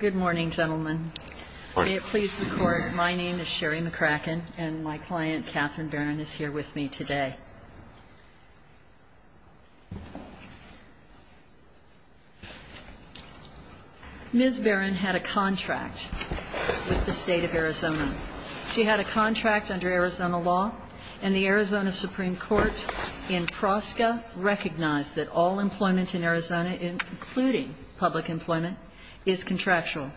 Good morning, gentlemen. May it please the Court, my name is Sherry McCracken and my client, Katherine Barron, is here with me today. Ms. Barron had a contract with the State of Arizona. She had a contract under Arizona law, and the Arizona Supreme Court in Prosca recognized that all employment in Arizona, including public employment, is contractual.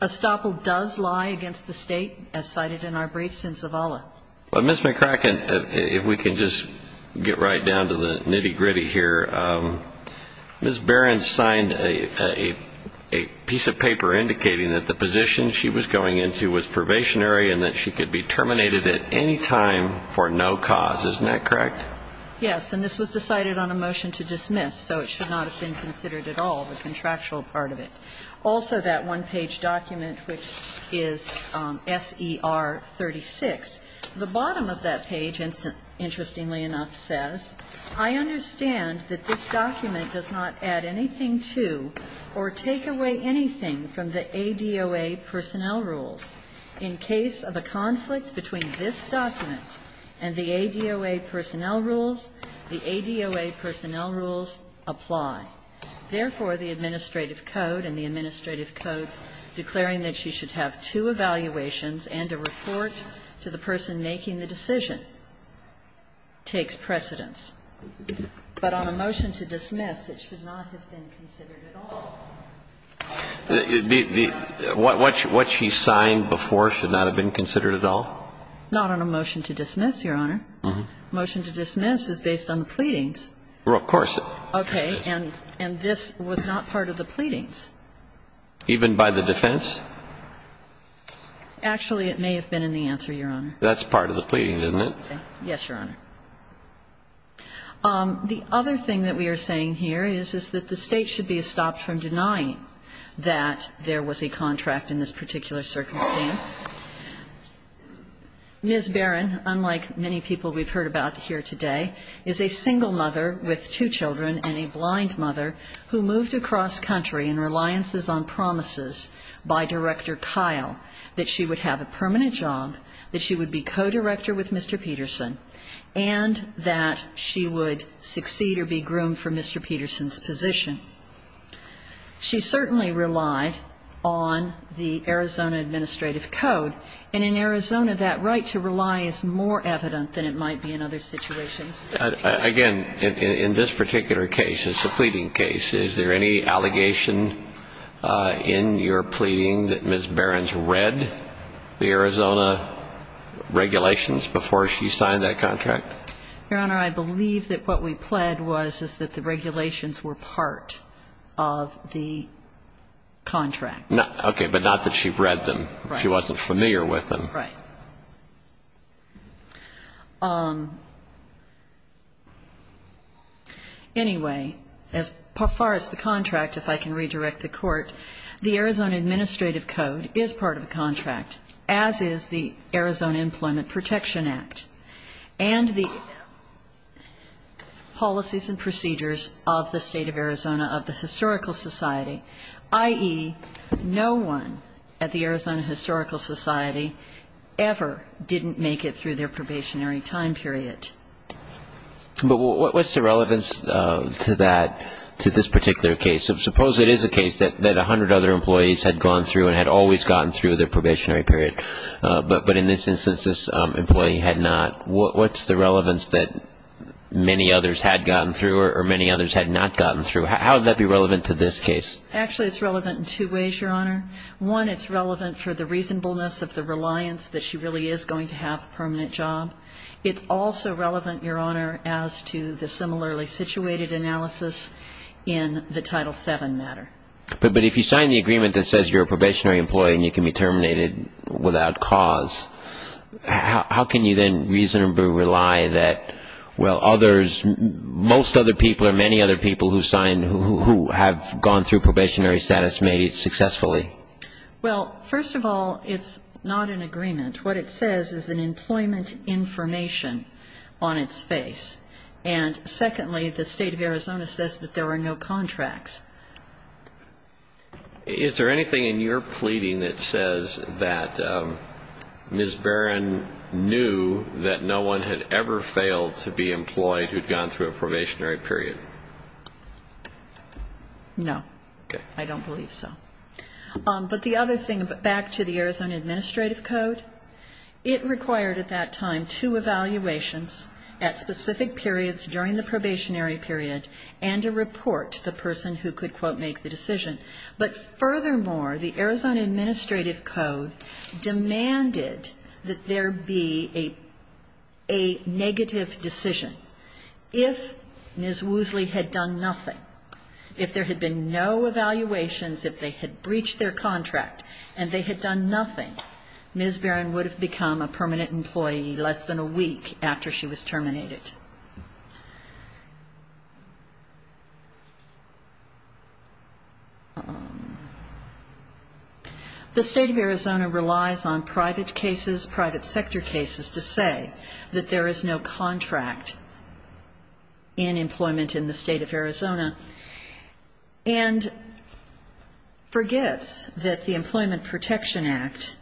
Estoppel does lie against the State, as cited in our briefs in Zavala. But Ms. McCracken, if we can just get right down to the nitty-gritty here, Ms. Barron signed a piece of paper indicating that the position she was going into was probationary and that she could be terminated at any time for no cause. Isn't that correct? Yes, and this was decided on a motion to dismiss, so it should not have been considered at all, the contractual part of it. Also, that one-page document, which is SER 36, the bottom of that page, interestingly enough, says, I understand that this document does not add anything to or take away anything from the ADOA personnel rules. In case of a conflict between this document and the ADOA personnel rules, the ADOA personnel rules apply. Therefore, the administrative code and the administrative code declaring that she should have two evaluations and a report to the person making the decision takes precedence. But on a motion to dismiss, it should not have been considered at all. What she signed before should not have been considered at all? Not on a motion to dismiss, Your Honor. Motion to dismiss is based on the pleadings. Well, of course. Okay. And this was not part of the pleadings. Even by the defense? Actually, it may have been in the answer, Your Honor. That's part of the pleadings, isn't it? Yes, Your Honor. The other thing that we are saying here is, is that the State should be stopped from denying that there was a contract in this particular circumstance. Ms. Barron, unlike many people we've heard about here today, is a single mother with two children and a blind mother who moved across country in reliances on promises by Director Kyle that she would have a permanent job, that she would be co-director with Mr. Peterson, and that she would succeed or be groomed for Mr. Peterson's position. She certainly relied on the Arizona Administrative Code, and in Arizona that right to rely is more evident than it might be in other situations. Again, in this particular case, it's a pleading case. Is there any allegation in your pleading that Ms. Barron's read the Arizona regulations before she signed that contract? Your Honor, I believe that what we pled was that the regulations were part of the contract. Okay. But not that she read them. She wasn't familiar with them. Right. Anyway, as far as the contract, if I can redirect the Court, the Arizona Administrative Code is part of the contract, as is the Arizona Employment Protection Act and the policies and procedures of the State of Arizona of the Historical Society, i.e., no one at the Arizona Historical Society ever didn't make it through their probationary time period. But what's the relevance to that, to this particular case? Suppose it is a case that 100 other employees had gone through and had always gotten through their probationary period, but in this instance this employee had not. What's the relevance that many others had gotten through or many others had not gotten through? How would that be relevant to this case? Actually, it's relevant in two ways, Your Honor. One, it's relevant for the reasonableness of the reliance that she really is going to have a permanent job. It's also relevant, Your Honor, as to the similarly situated analysis in the Title VII matter. But if you sign the agreement that says you're a probationary employee and you can be terminated without cause, how can you then reasonably rely that, well, others, most other people or many other people who have gone through probationary status made it successfully? Well, first of all, it's not an agreement. What it says is an employment information on its face. And secondly, the State of Arizona says that there are no contracts. Is there anything in your pleading that says that Ms. Barron knew that no one had ever failed to be employed who had gone through a probationary period? No. Okay. I don't believe so. But the other thing, back to the Arizona Administrative Code, it required at that time two evaluations at specific periods during the probationary period and a report to the person who could, quote, make the decision. But furthermore, the Arizona Administrative Code demanded that there be a negative decision. If Ms. Woosley had done nothing, if there had been no evaluations, if they had breached their contract and they had done nothing, Ms. Barron would have become a permanent employee less than a week after she was terminated. The State of Arizona relies on private cases, private sector cases, to say that there is no contract in employment in the State of Arizona and forgets that the Employment Protection Act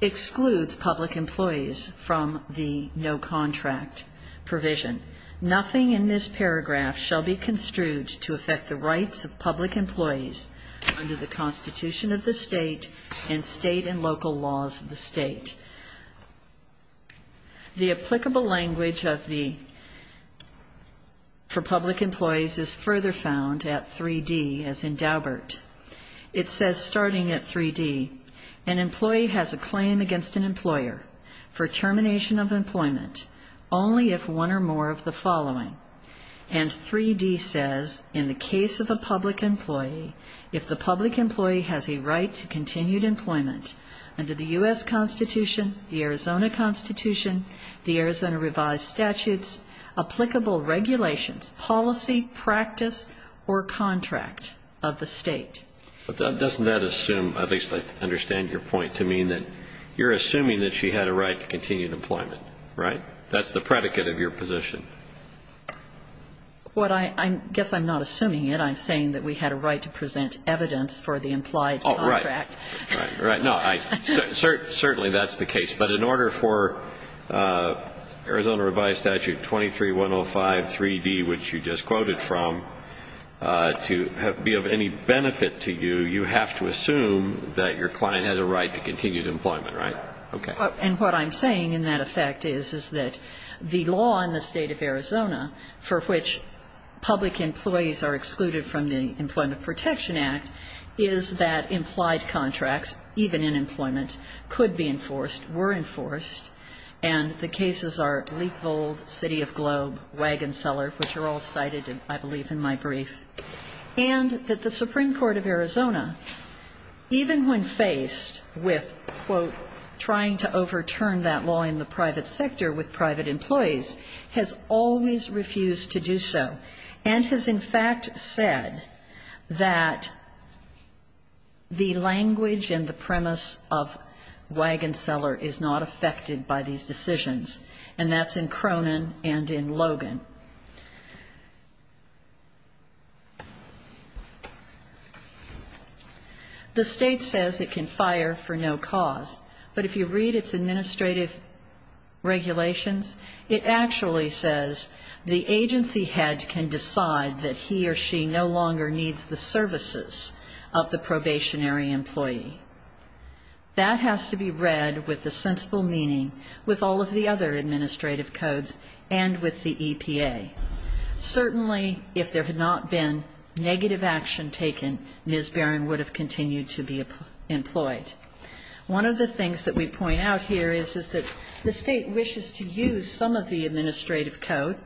excludes public employees from the no-contract provision. Nothing in this paragraph shall be construed to affect the rights of public employees under the Constitution of the State and state and local laws of the state. The applicable language for public employees is further found at 3D as in Daubert. It says, starting at 3D, an employee has a claim against an employer for termination of employment only if one or more of the following. And 3D says, in the case of a public employee, if the public employee has a right to continued employment under the U.S. Constitution, the Arizona Constitution, the Arizona revised statutes, applicable regulations, policy, practice, or contract of the state. But doesn't that assume, at least I understand your point to mean that you're assuming that she had a right to continued employment, right? That's the predicate of your position. Well, I guess I'm not assuming it. I'm saying that we had a right to present evidence for the implied contract. Oh, right. Right. No, certainly that's the case. But in order for Arizona revised statute 23105 3D, which you just quoted from, to be of any benefit to you, you have to assume that your client had a right to continued employment, right? Okay. And what I'm saying in that effect is that the law in the state of Arizona for which public employees are excluded from the Employment Protection Act is that implied contracts, even in employment, could be enforced, were enforced. And the cases are Leekvold, City of Globe, Wagon Seller, which are all cited, I believe, in my brief. And that the Supreme Court of Arizona, even when faced with, quote, trying to overturn that law in the private sector with private employees, has always refused to do so and has, in fact, said that the language and the premise of Wagon Seller is not affected by these decisions. And that's in Cronin and in Logan. The state says it can fire for no cause, but if you read its administrative regulations, it actually says the agency head can decide that he or she no longer needs the services of the probationary employee. That has to be read with a sensible meaning with all of the other administrative codes and with the EPA. Certainly, if there had not been negative action taken, Ms. Barron would have continued to be employed. One of the things that we point out here is, is that the State wishes to use some of the administrative code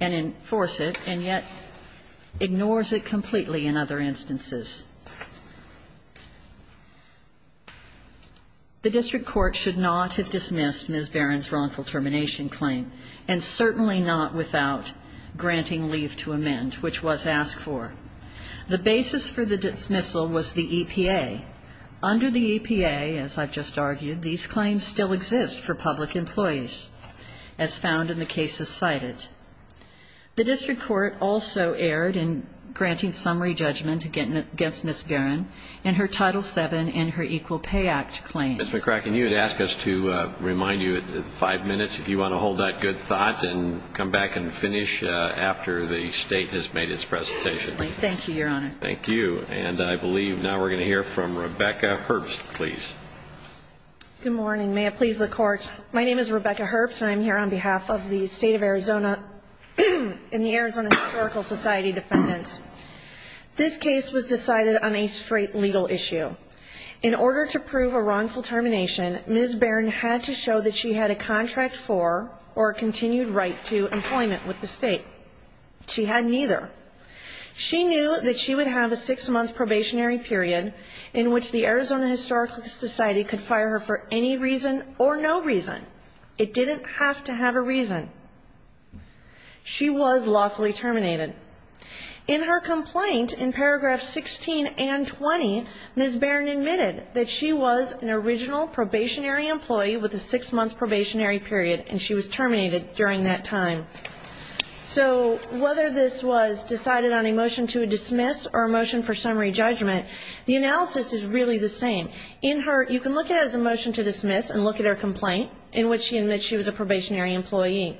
and enforce it, and yet ignores it completely in other instances. The district court should not have dismissed Ms. Barron's wrongful termination claim, and certainly not without granting leave to amend, which was asked for. The basis for the dismissal was the EPA. Under the EPA, as I've just argued, these claims still exist for public employees, as found in the cases cited. The district court also erred in granting summary judgment against Ms. Barron in her Title VII and her Equal Pay Act claims. Ms. McCracken, you had asked us to remind you of the five minutes. If you want to hold that good thought and come back and finish after the State has made its presentation. Thank you, Your Honor. Thank you. And I believe now we're going to hear from Rebecca Herbst, please. Good morning. May it please the Court. My name is Rebecca Herbst, and I'm here on behalf of the State of Arizona and the Arizona Historical Society defendants. This case was decided on a straight legal issue. In order to prove a wrongful termination, Ms. Barron had to show that she had a contract for or a continued right to employment with the State. She had neither. She knew that she would have a six-month probationary period in which the Arizona Historical Society could fire her for any reason or no reason. It didn't have to have a reason. She was lawfully terminated. In her complaint in paragraphs 16 and 20, Ms. Barron admitted that she was an original probationary employee with a six-month probationary period, and she was terminated during that time. So whether this was decided on a motion to dismiss or a motion for summary judgment, the analysis is really the same. You can look at it as a motion to dismiss and look at her complaint in which she admits she was a probationary employee.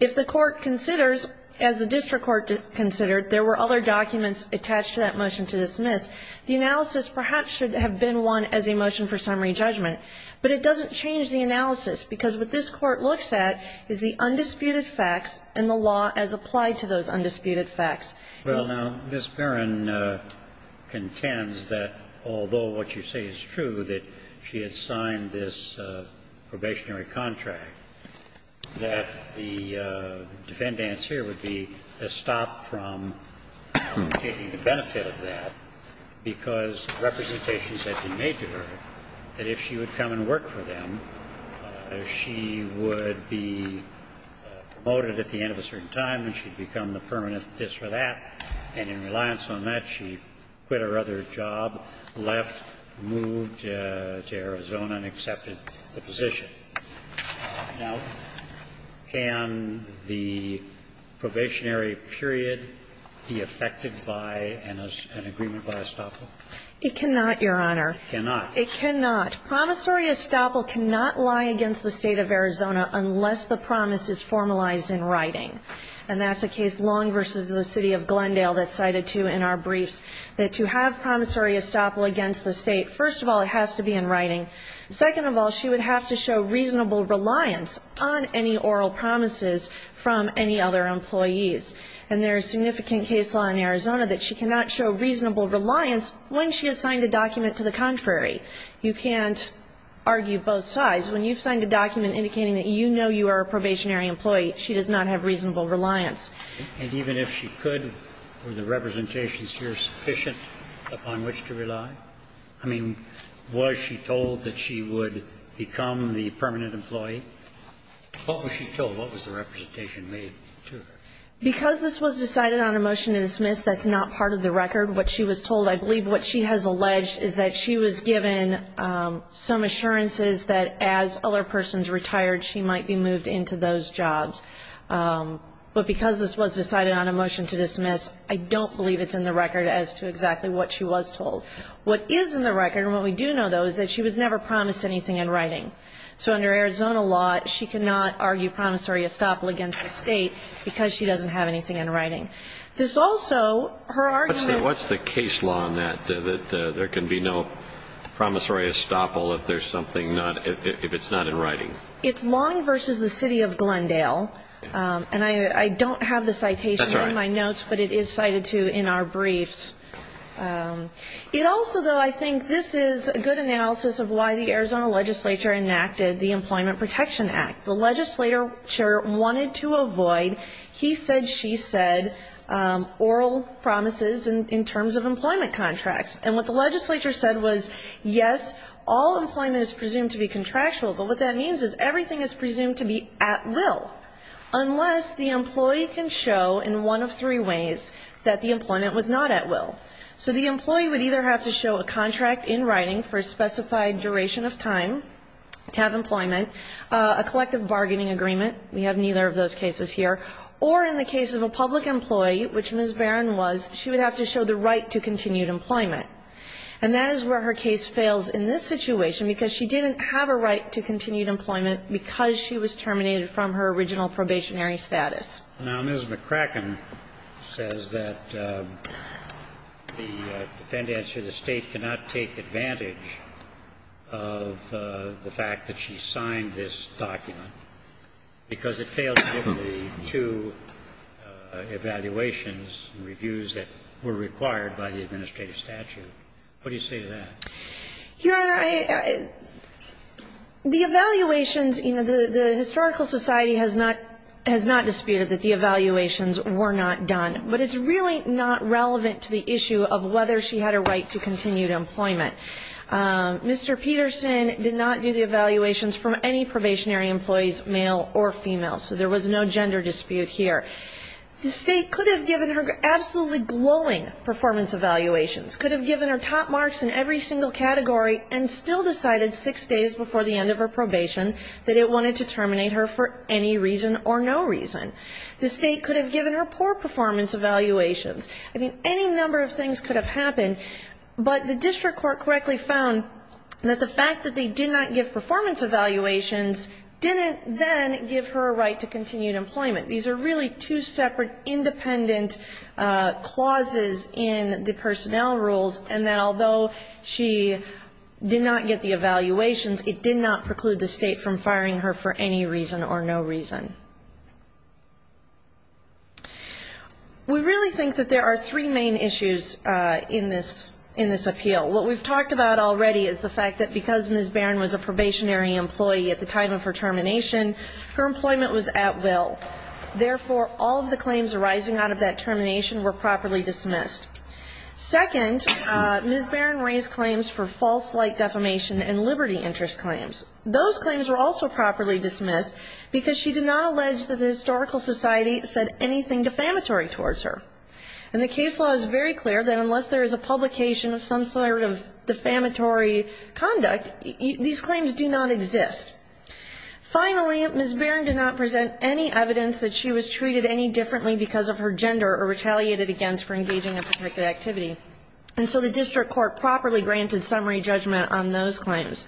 If the Court considers, as the district court considered, there were other documents attached to that motion to dismiss, the analysis perhaps should have been one as a motion for summary judgment. But it doesn't change the analysis, because what this Court looks at is the undisputed facts and the law as applied to those undisputed facts. Well, now, Ms. Barron contends that although what you say is true, that she had signed this probationary contract, that the defendants here would be stopped from taking the benefit of that because representations had been made to her that if she would come and work for them, she would be promoted at the end of a certain time and she'd become the permanent this or that. And in reliance on that, she quit her other job, left, moved to Arizona and accepted the position. Now, can the probationary period be affected by an agreement by estoppel? It cannot, Your Honor. It cannot. It cannot. Promissory estoppel cannot lie against the State of Arizona unless the promise is formalized in writing. And that's a case long versus the city of Glendale that's cited too in our briefs, that to have promissory estoppel against the State, first of all, it has to be in writing. Second of all, she would have to show reasonable reliance on any oral promises from any other employees. And there is significant case law in Arizona that she cannot show reasonable reliance when she has signed a document to the contrary. You can't argue both sides. When you've signed a document indicating that you know you are a probationary employee, she does not have reasonable reliance. I mean, was she told that she would become the permanent employee? What was she told? What was the representation made to her? Because this was decided on a motion to dismiss, that's not part of the record, what she was told, I believe what she has alleged is that she was given some assurances that as other persons retired, she might be moved into those jobs. But because this was decided on a motion to dismiss, I don't believe it's in the record as to exactly what she was told. What is in the record, and what we do know, though, is that she was never promised anything in writing. So under Arizona law, she cannot argue promissory estoppel against the state because she doesn't have anything in writing. There's also her argument. What's the case law on that, that there can be no promissory estoppel if there's something not, if it's not in writing? It's Long v. The City of Glendale. And I don't have the citation in my notes, but it is cited to in our briefs. It also, though, I think this is a good analysis of why the Arizona legislature enacted the Employment Protection Act. The legislature wanted to avoid, he said, she said, oral promises in terms of employment contracts. And what the legislature said was, yes, all employment is presumed to be contractual, but what that means is everything is presumed to be at will, unless the employee can show in one of three ways that the employment was not at will. So the employee would either have to show a contract in writing for a specified duration of time to have employment, a collective bargaining agreement. We have neither of those cases here. Or in the case of a public employee, which Ms. Barron was, she would have to show the right to continued employment. And that is where her case fails in this situation because she didn't have a right to continued employment because she was terminated from her original probationary status. Now, Ms. McCracken says that the defendants or the State cannot take advantage of the fact that she signed this document because it fails to give the two evaluations and reviews that were required by the administrative statute. What do you say to that? Your Honor, the evaluations, you know, the historical society has not disputed that the evaluations were not done, but it's really not relevant to the issue of whether she had a right to continued employment. Mr. Peterson did not do the evaluations from any probationary employees, male or female, so there was no gender dispute here. The State could have given her absolutely glowing performance evaluations, could have given her top marks in every single category and still decided six days before the end of her probation that it wanted to terminate her for any reason or no reason. The State could have given her poor performance evaluations. I mean, any number of things could have happened, but the district court correctly found that the fact that they did not give performance evaluations didn't then give her a right to continued employment. These are really two separate independent clauses in the personnel rules, and that although she did not get the evaluations, it did not preclude the State from firing her for any reason or no reason. We really think that there are three main issues in this appeal. What we've talked about already is the fact that because Ms. Barron was a probationary employee at the time of her termination, her employment was at will. Therefore, all of the claims arising out of that termination were properly dismissed. Second, Ms. Barron raised claims for false light defamation and liberty interest claims. Those claims were also properly dismissed because she did not allege that the historical society said anything defamatory towards her. And the case law is very clear that unless there is a publication of some sort of defamatory conduct, these claims do not exist. Finally, Ms. Barron did not present any evidence that she was treated any And so the district court properly granted summary judgment on those claims.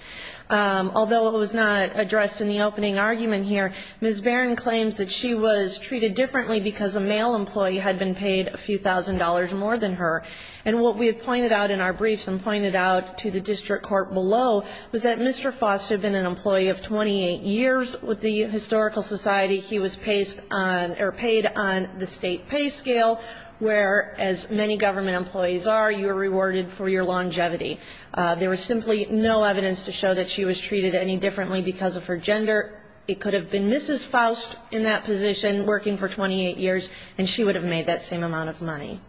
Although it was not addressed in the opening argument here, Ms. Barron claims that she was treated differently because a male employee had been paid a few thousand dollars more than her. And what we had pointed out in our briefs and pointed out to the district court below was that Mr. Foster had been an employee of 28 years with the historical society. He was paid on the state pay scale, where as many government employees are, you are rewarded for your longevity. There was simply no evidence to show that she was treated any differently because of her gender. It could have been Mrs. Faust in that position working for 28 years, and she would have made that same amount of money.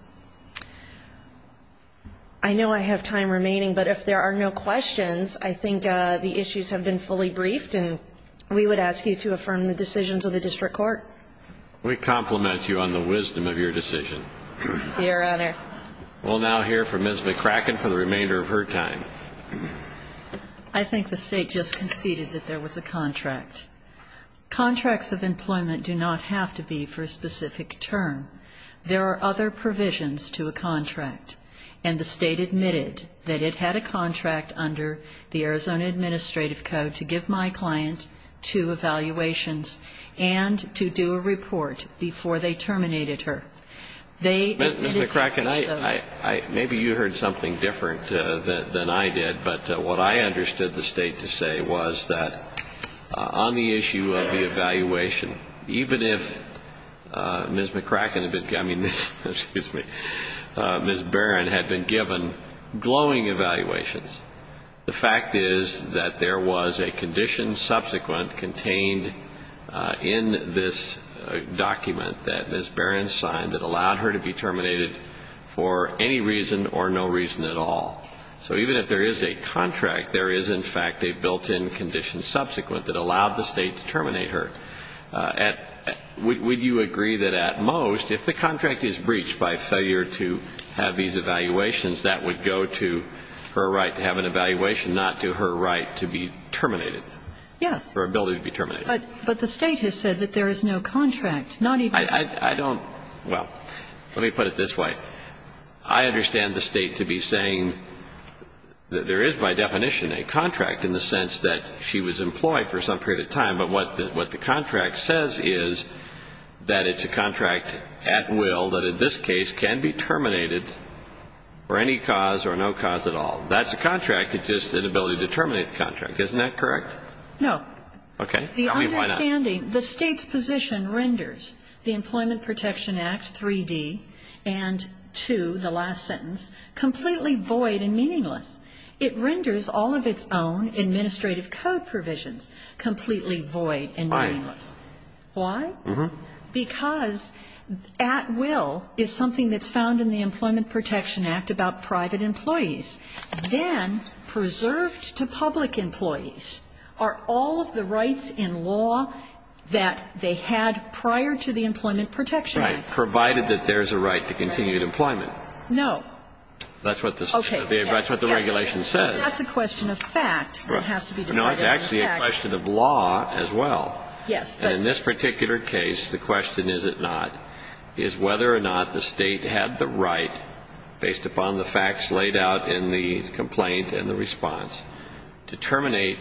I know I have time remaining, but if there are no questions, I think the issues have been fully briefed, and we would ask you to affirm the decisions of the district court. We compliment you on the wisdom of your decision. Your Honor. We'll now hear from Ms. McCracken for the remainder of her time. I think the State just conceded that there was a contract. Contracts of employment do not have to be for a specific term. There are other provisions to a contract, and the State admitted that it had a contract under the Arizona Administrative Code to give my client two evaluations and to do a report before they terminated her. Ms. McCracken, maybe you heard something different than I did, but what I understood the State to say was that on the issue of the evaluation, even if Ms. McCracken had been given glowing evaluations, the fact is that there was a condition subsequent contained in this document that Ms. Barron signed that allowed her to be terminated for any reason or no reason at all. So even if there is a contract, there is, in fact, a built-in condition subsequent that allowed the State to terminate her. Would you agree that at most, if the contract is breached by failure to have these evaluations, that would go to her right to have an evaluation, not to her right to be terminated? Yes. Her ability to be terminated. But the State has said that there is no contract, not even a contract. I don't – well, let me put it this way. I understand the State to be saying that there is by definition a contract in the sense that she was employed for some period of time, but what the contract says is that it's a contract at will that in this case can be terminated for any cause or no cause at all. That's a contract. It's just an ability to terminate the contract. Isn't that correct? No. Okay. Tell me why not. The understanding – the State's position renders the Employment Protection Act 3D and 2, the last sentence, completely void and meaningless. It renders all of its own administrative code provisions completely void and meaningless. Why? Why? Because at will is something that's found in the Employment Protection Act about private employees. Then preserved to public employees are all of the rights in law that they had prior to the Employment Protection Act. Right. Provided that there's a right to continued employment. No. That's what the – Okay. But that's what the regulation says. That's a question of fact that has to be decided. No. It's actually a question of law as well. Yes. And in this particular case, the question is it not, is whether or not the State had the right, based upon the facts laid out in the complaint and the response, to terminate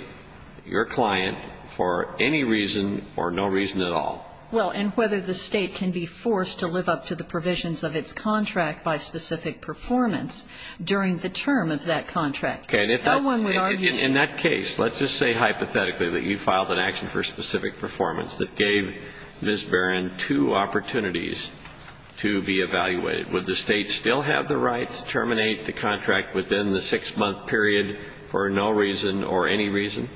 your client for any reason or no reason at all. Well, and whether the State can be forced to live up to the provisions of its contract by specific performance during the term of that contract. Okay. And if that's – No one would argue – In that case, let's just say hypothetically that you filed an action for specific performance that gave Ms. Barron two opportunities to be evaluated. Would the State still have the right to terminate the contract within the six-month period for no reason or any reason?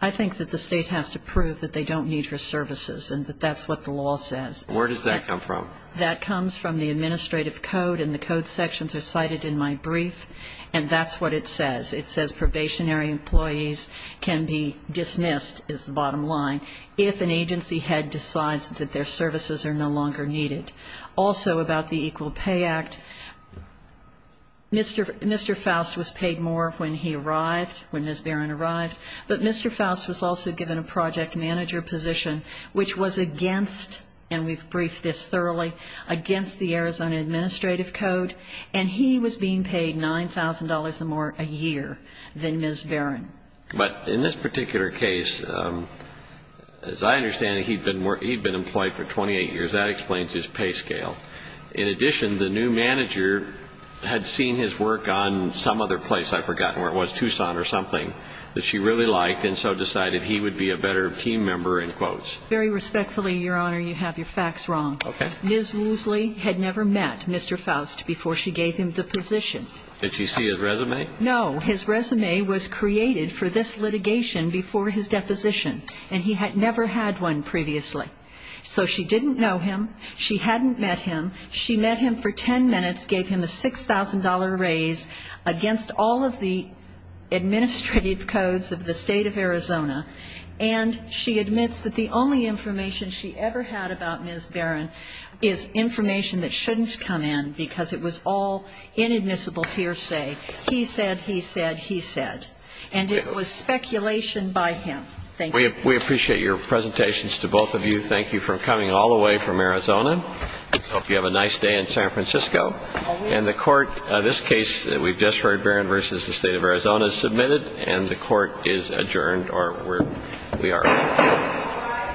I think that the State has to prove that they don't need her services and that that's what the law says. Where does that come from? That comes from the administrative code, and the code sections are cited in my brief, and that's what it says. It says probationary employees can be dismissed, is the bottom line, if an agency head decides that their services are no longer needed. Also about the Equal Pay Act, Mr. Faust was paid more when he arrived, when Ms. Barron arrived, but Mr. Faust was also given a project manager position, which was against, and we've briefed this thoroughly, against the Arizona Administrative Code, and he was being paid $9,000 or more a year than Ms. Barron. But in this particular case, as I understand it, he'd been employed for 28 years. That explains his pay scale. In addition, the new manager had seen his work on some other place, I've forgotten where it was, that she really liked and so decided he would be a better team member, in quotes. Very respectfully, Your Honor, you have your facts wrong. Okay. Ms. Woosley had never met Mr. Faust before she gave him the position. Did she see his resume? No. His resume was created for this litigation before his deposition, and he had never had one previously. So she didn't know him. She hadn't met him. She met him for 10 minutes, gave him a $6,000 raise against all of the administrative codes of the state of Arizona, and she admits that the only information she ever had about Ms. Barron is information that shouldn't come in because it was all inadmissible hearsay. He said, he said, he said. And it was speculation by him. Thank you. We appreciate your presentations to both of you. Thank you for coming all the way from Arizona. Hope you have a nice day in San Francisco. And the court, this case that we've just heard, Barron v. The State of Arizona, is submitted, and the court is adjourned, or we are adjourned.